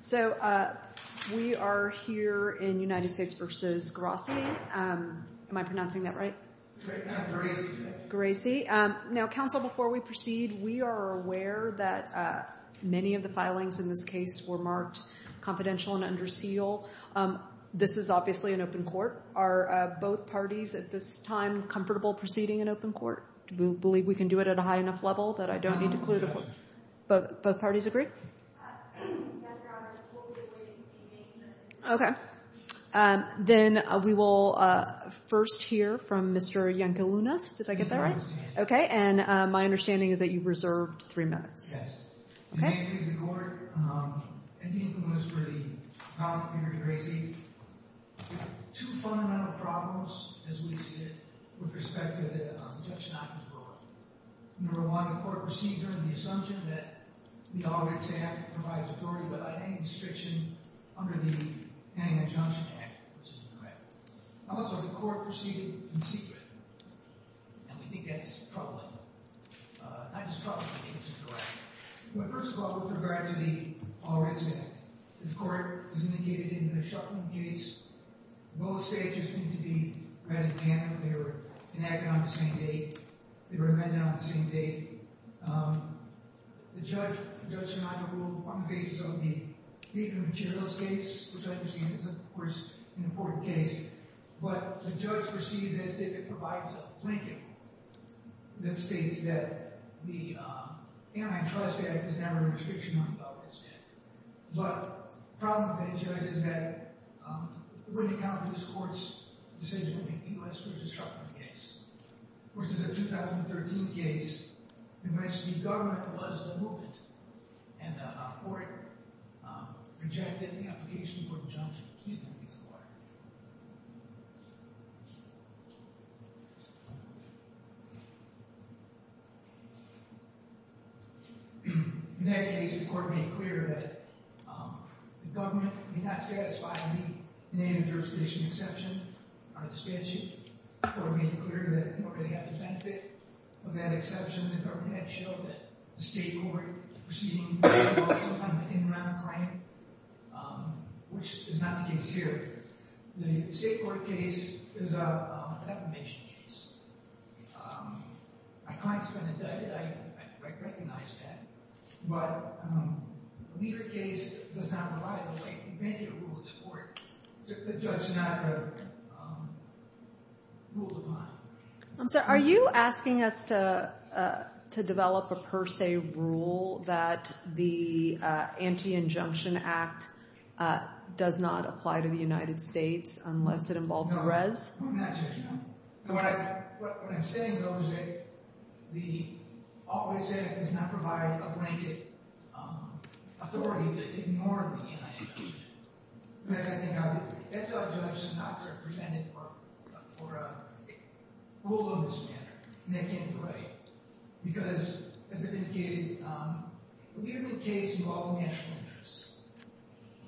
So we are here in United States v. Gerasi. Am I pronouncing that right? Gerasi. Now, counsel, before we proceed, we are aware that many of the filings in this case were marked confidential and under seal. This is obviously an open court. Are both parties at this time comfortable proceeding in open court? Do we believe we can do it at a high enough level that I don't need to clear the court? Both parties agree? Yes, Your Honor. We'll be awaiting the hearing. Okay. Then we will first hear from Mr. Iancalunas. Did I get that right? Yes, Your Honor. Okay. And my understanding is that you reserved three minutes. Yes. In the name of the court, I'm Iancalunas for the promise of the hearing to Gerasi. Two fundamental problems, as we see it, with respect to the Judge Knopfler's ruling. Number one, the court proceeded under the assumption that the audits act provides authority without any restriction under the Hanging Adjunction Act, which is incorrect. Also, the court proceeded in secret, and we think that's troubling. Not just troubling, I think it's incorrect. But first of all, with regard to the audits act, as the court indicated in the Shuffman case, both stages need to be read in canon. They were enacted on the same date. They were amended on the same date. The judge, Judge Sinatra, ruled on the basis of the paper materials case, which I understand is, of course, an important case. But the judge proceeds as if it provides a blanket that states that the Antitrust Act is never a restriction on the government's debt. But the problem with that, Judge, is that it wouldn't account for this court's decision to make the U.S. v. Shuffman case, which is a 2013 case in which the government was the movement, and the court rejected the application for adjunction. In that case, the court made clear that the government may not satisfy any native jurisdiction exception under the statute. The court made it clear that nobody had the benefit of that exception. The government had shown that the state court was proceeding with a well-founded in-ground claim, which is not the case here. The state court case is a defamation case. My client's been indicted. I recognize that. But a leader case does not rely on a blanket rule of the court. The judge did not have a rule of mind. I'm sorry. Are you asking us to develop a per se rule that the Anti-Injunction Act does not apply to the United States unless it involves a res? No, I'm not, Judge. No. What I'm saying, though, is that all we're saying is it does not provide a blanket authority to ignore the United Nations. That's how judges are not represented for a rule of this manner. And that can't be right. Because, as I've indicated, a leader-made case involved national interests.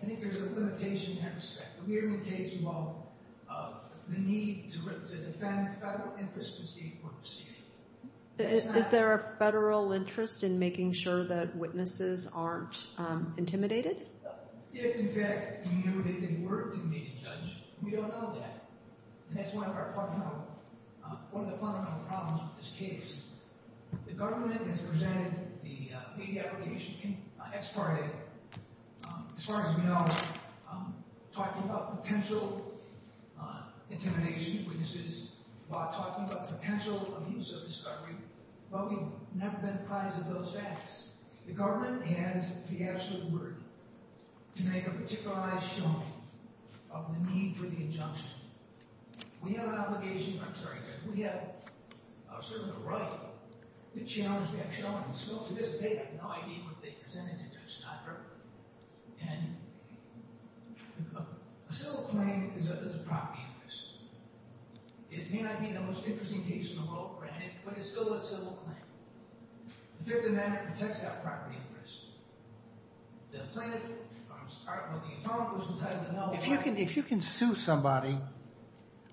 I think there's a limitation in that respect. A leader-made case involved the need to defend federal interest in the state court proceeding. Is there a federal interest in making sure that witnesses aren't intimidated? If, in fact, we knew that they were to be made a judge, we don't know that. And that's one of our fundamental problems with this case. The government has presented the media aggregation as part of it. As far as we know, talking about potential intimidation of witnesses while talking about potential abuse of discovery, well, we've never been prized of those facts. The government has the absolute word to make a particularized showing of the need for the injunction. We have an obligation – I'm sorry, Judge – we have a certain right to challenge that showing. So, to this day, I have no idea what they presented to Judge Snyder. And a civil claim is a property of this. It may not be the most interesting case in the world, granted, but it's still a civil claim. If you're the man that protects that property, Chris, the plaintiff – I don't know, the attorney – If you can sue somebody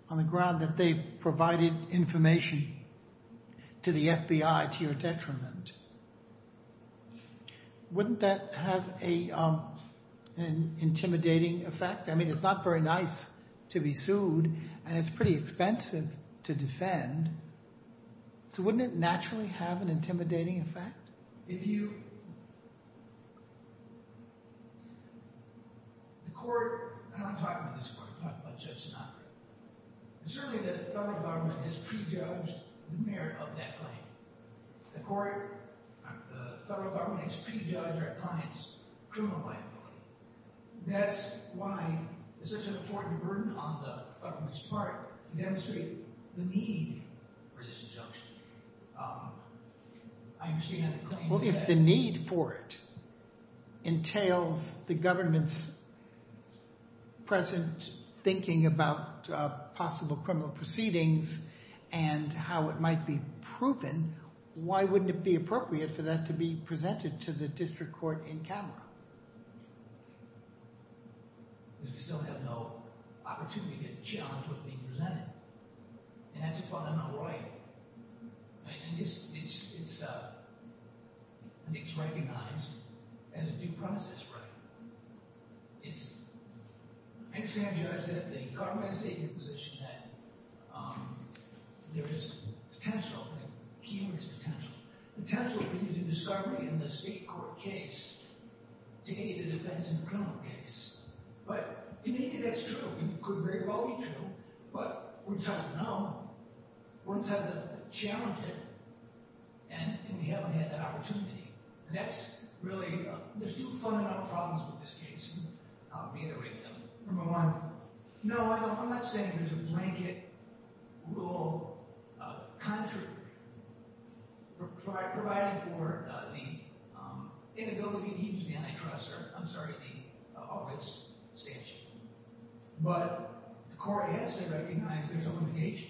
on the ground that they provided information to the FBI to your detriment, wouldn't that have an intimidating effect? I mean, it's not very nice to be sued, and it's pretty expensive to defend. So wouldn't it naturally have an intimidating effect? If you – the court – I'm not talking about this court. I'm talking about Judge Snyder. And certainly the federal government has prejudged the merit of that claim. The court – the federal government has prejudged our client's criminal liability. That's why it's such an important burden on the federal government's part to demonstrate the need for this injunction. I understand that the claim – Well, if the need for it entails the government's present thinking about possible criminal proceedings and how it might be proven, why wouldn't it be appropriate for that to be presented to the district court in Calgary? Because we still have no opportunity to challenge what's being presented, and that's a fundamental right. I mean, it's recognized as a due process right. I understand, Judge, that the government has taken the position that there is potential – a key word is potential – potential for you to do discovery in the state court case to aid the defense in the criminal case. But you may think that's true. It could very well be true. But we're entitled to know. We're entitled to challenge it, and we haven't had that opportunity. And that's really – there's two fundamental problems with this case, and I'll reiterate them. Number one, no, I'm not saying there's a blanket rule contrary provided for the inability to use the antitrust – I'm sorry, the August statute. But the court has to recognize there's a limitation.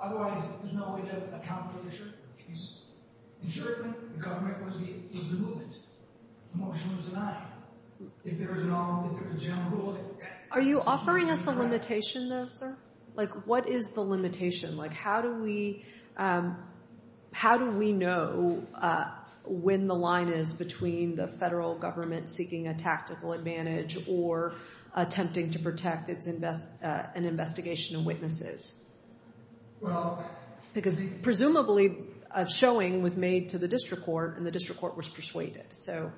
Otherwise, there's no way to account for the insurement case. That was the movement. The motion was denied. If there's a general rule – Are you offering us a limitation, though, sir? Like, what is the limitation? Like, how do we know when the line is between the federal government seeking a tactical advantage or attempting to protect an investigation of witnesses? Well – Because presumably a showing was made to the district court, and the district court was persuaded. So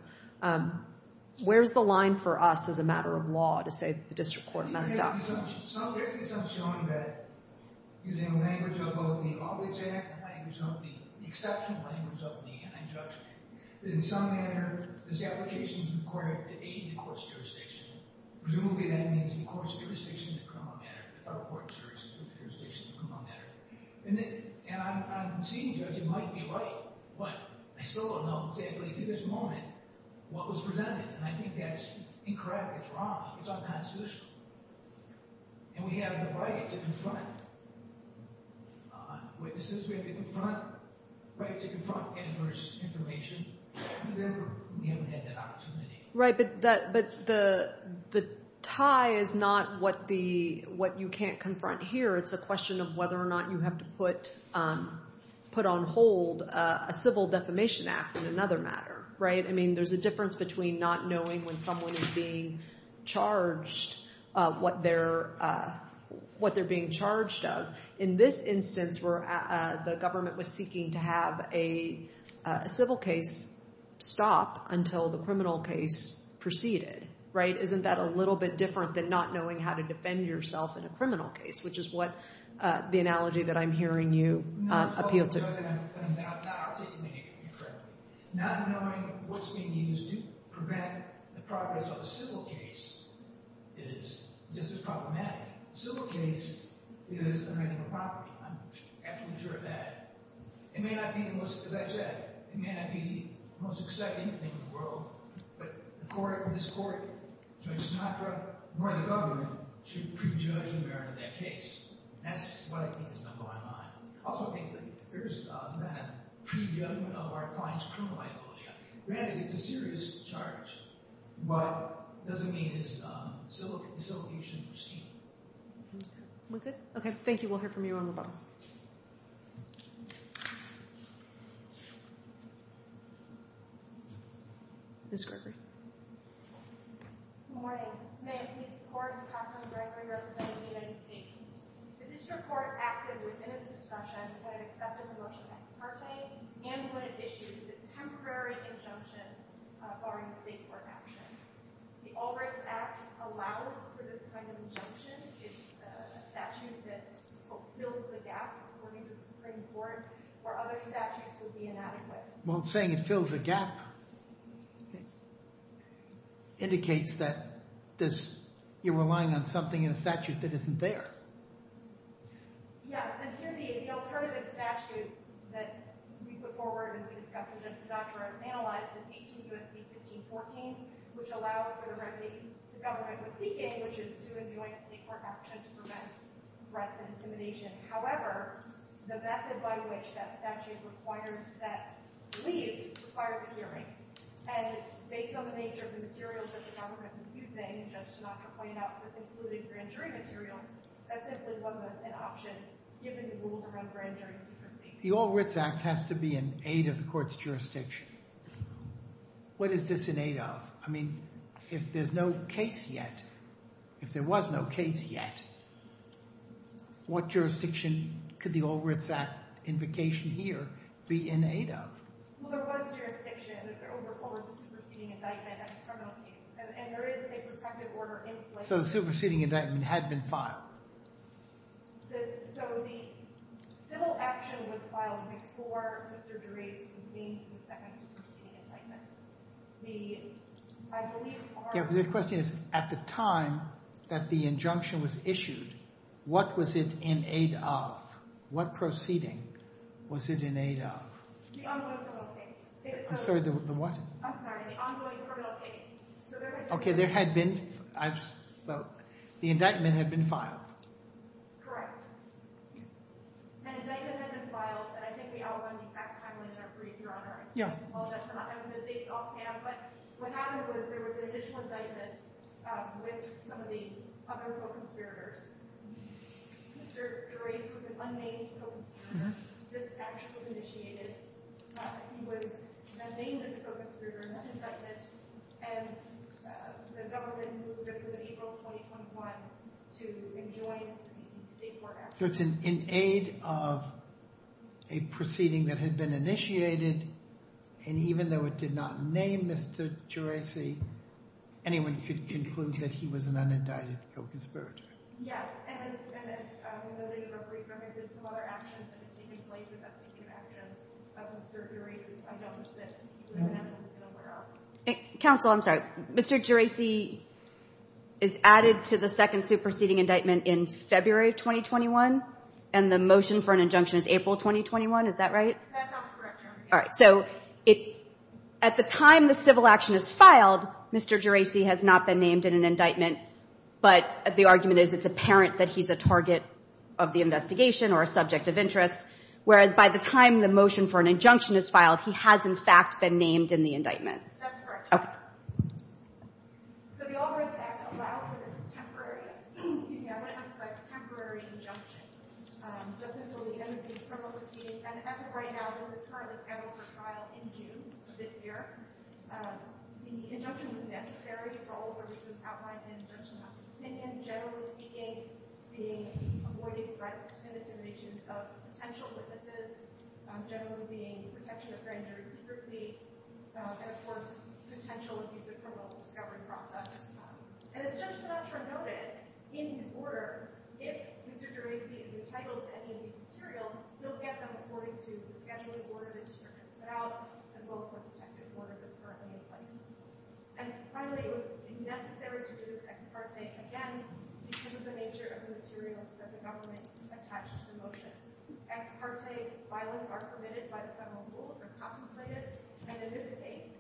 where's the line for us as a matter of law to say the district court messed up? There's some showing that, using the language of both the August Act and the language of the exception language of the injunction, that in some manner this application is required to aid the court's jurisdiction. Presumably that means the court's jurisdiction in criminal matter, the federal court's jurisdiction in criminal matter. And I'm seeing, Judge, it might be right. But I still don't know exactly to this moment what was presented, and I think that's incorrect. It's unconstitutional. And we have the right to confront witnesses. We have the right to confront adverse information. We haven't had that opportunity. Right, but the tie is not what you can't confront here. It's a question of whether or not you have to put on hold a civil defamation act in another matter. I mean, there's a difference between not knowing when someone is being charged what they're being charged of. In this instance, the government was seeking to have a civil case stop until the criminal case proceeded. Isn't that a little bit different than not knowing how to defend yourself in a criminal case, which is what the analogy that I'm hearing you appeal to? So it turns out that I'm taking it incorrectly. Not knowing what's being used to prevent the progress of a civil case is just as problematic. A civil case is amending a property. I'm absolutely sure of that. It may not be the most, as I said, it may not be the most exciting thing in the world, but this court, Judge Sinatra, nor the government should prejudge the merit of that case. And that's what I think is not going on. Also, frankly, there's that prejudgment of our client's criminal liability. Granted, it's a serious charge, but it doesn't mean it's a civil case. We're good? Okay, thank you. We'll hear from you on the phone. Ms. Gregory. Good morning. May I please report and talk to Ms. Gregory representing the United States? The district court acted within its discretion when it accepted the motion ex parte and when it issued the temporary injunction barring state court action. The All Rights Act allows for this kind of injunction. It's a statute that fills the gap, according to the Supreme Court, where other statutes would be inadequate. Well, saying it fills the gap indicates that you're relying on something in a statute that isn't there. Yes, and here the alternative statute that we put forward and we discussed with Judge Sinatra and analyzed is 18 U.S.C. 1514, which allows for the remedy the government was seeking, which is to enjoin a state court action to prevent threats and intimidation. However, the method by which that statute requires that leave requires a hearing, and based on the nature of the materials that the government was using, and Judge Sinatra pointed out this included grand jury materials, that simply wasn't an option given the rules around grand jury secrecy. The All Rights Act has to be in aid of the court's jurisdiction. What is this in aid of? I mean, if there's no case yet, if there was no case yet, what jurisdiction could the All Rights Act invocation here be in aid of? Well, there was jurisdiction over the superseding indictment as a criminal case, and there is a protective order in place. So the superseding indictment had been filed. So the civil action was filed before Mr. Durace convened the superseding indictment. The question is, at the time that the injunction was issued, what was it in aid of? What proceeding was it in aid of? The ongoing criminal case. I'm sorry, the what? I'm sorry, the ongoing criminal case. Okay, there had been, so the indictment had been filed. Correct. An indictment had been filed, and I think we all know the exact timeline in our brief, Your Honor. Yeah. Well, that's not, the date's off hand, but what happened was there was an additional indictment with some of the other co-conspirators. Mr. Durace was an unnamed co-conspirator. This action was initiated, not that he was unnamed as a co-conspirator in that indictment, and the government moved it to April of 2021 to enjoin the state court action. So it's in aid of a proceeding that had been initiated, and even though it did not name Mr. Durace, anyone could conclude that he was an unindicted co-conspirator. Yes, and it's, and it's, although they were briefed when they did some other actions, it had taken place as a speaking of evidence of Mr. Durace's unknowns that he would have been in a warehouse. Counsel, I'm sorry. Mr. Durace is added to the second suit proceeding indictment in February of 2021, and the motion for an injunction is April of 2021. Is that right? That sounds correct, Your Honor. All right, so at the time the civil action is filed, Mr. Durace has not been named in an indictment, but the argument is it's apparent that he's a target of the investigation or a subject of interest, whereas by the time the motion for an injunction is filed, he has, in fact, been named in the indictment. That's correct, Your Honor. Okay. So the Albright Act allowed for this temporary, excuse me, I want to emphasize temporary injunction. Just until the end of the external proceeding, and as of right now, this is currently scheduled for trial in June of this year. The injunction was necessary for all of the reasons outlined in Judge Sinatra's opinion, generally speaking, being avoiding threats and intimidation of potential witnesses, generally being protection of grand jury secrecy, and, of course, potential abuse of criminal discovery process. And as Judge Sinatra noted in his order, if Mr. Durace is entitled to any of these materials, he'll get them according to the scheduling order the district has put out, as well as the protective order that's currently in place. And finally, it was necessary to use ex parte again because of the nature of the materials that the government attached to the motion. Ex parte violence are permitted by the federal rule if they're contemplated, and in this case,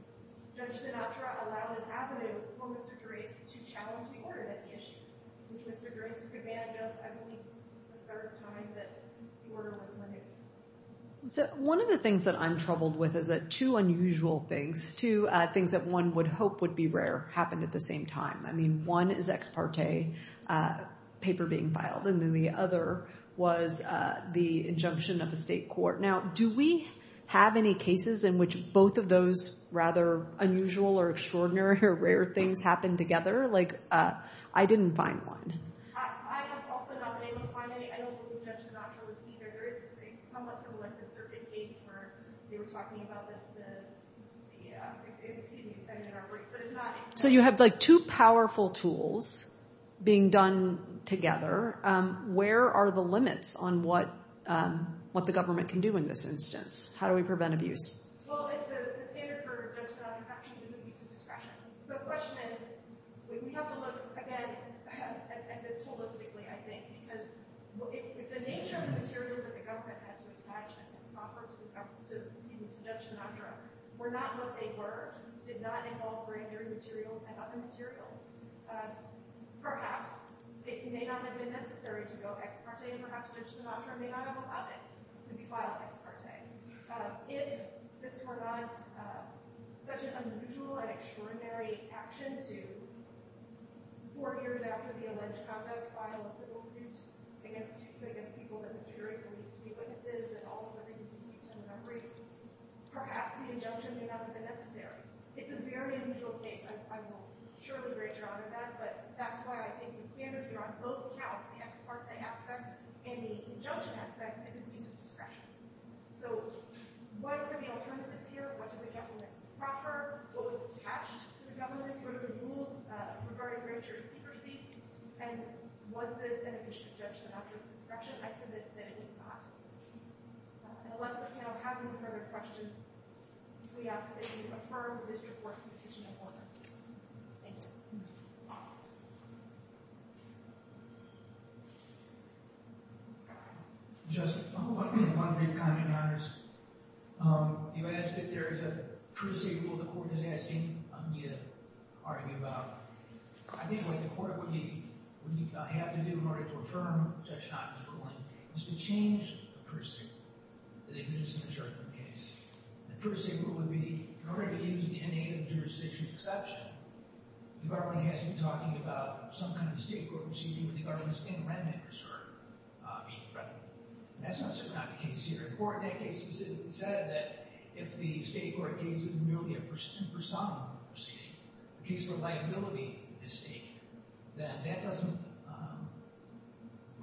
Judge Sinatra allowed an avenue for Mr. Durace to challenge the order that he issued, which Mr. Durace demanded of Emily the third time that the order was renewed. So one of the things that I'm troubled with is that two unusual things, two things that one would hope would be rare, happened at the same time. I mean, one is ex parte paper being filed, and then the other was the injunction of a state court. Now, do we have any cases in which both of those rather unusual or extraordinary or rare things happened together? Like, I didn't find one. I have also not been able to find any. I don't believe Judge Sinatra was either. There is a somewhat similar case where they were talking about the ex ante, the executive order. So you have, like, two powerful tools being done together. Where are the limits on what the government can do in this instance? How do we prevent abuse? Well, the standard for Judge Sinatra's actions is abuse of discretion. So the question is, we have to look, again, at this holistically, I think, because if the nature of the material that the government had to attach and offer to Judge Sinatra were not what they were, did not involve brand-new materials and other materials, perhaps it may not have been necessary to go ex parte, and perhaps Judge Sinatra may not have allowed it to be filed ex parte. If this were not such an unusual and extraordinary action to, four years after the alleged conduct, file a civil suit against people that this jury is going to use to be witnesses and all of the pieces of evidence in the memory, perhaps the injunction may not have been necessary. It's a very unusual case. I will surely greater honor that. But that's why I think the standard here on both counts, the ex parte aspect and the injunction aspect, is abuse of discretion. So what were the alternatives here? What did the government offer? What was attached to the government? What are the rules regarding grand jury secrecy? And was this an abuse of Judge Sinatra's discretion? I submit that it is not. Unless the panel has any further questions, we ask that you affirm this report's decision in order. Thank you. Thank you. Just one brief comment, Your Honors. You asked if there is a first-degree rule the court is asking me to argue about. I think what the court would have to do in order to affirm Judge Sinatra's ruling is to change the first-degree rule that exists in the Sherman case. The first-degree rule would be, in order to use the in-native jurisdiction exception, the government has to be talking about some kind of state court proceeding where the government is paying rent makers for being in front of them. And that's not super not the case here. The court in that case specifically said that if the state court gave you merely a personam proceeding, a case where liability is at stake, then that doesn't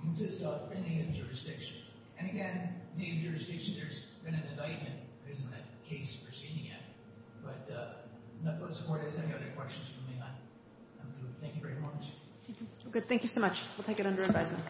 consist of in-native jurisdiction. And again, in-native jurisdiction, there's been an indictment. There isn't a case proceeding yet. But let's support it. Is there any other questions you may have? Thank you very much. Thank you so much. We'll take it under advisement.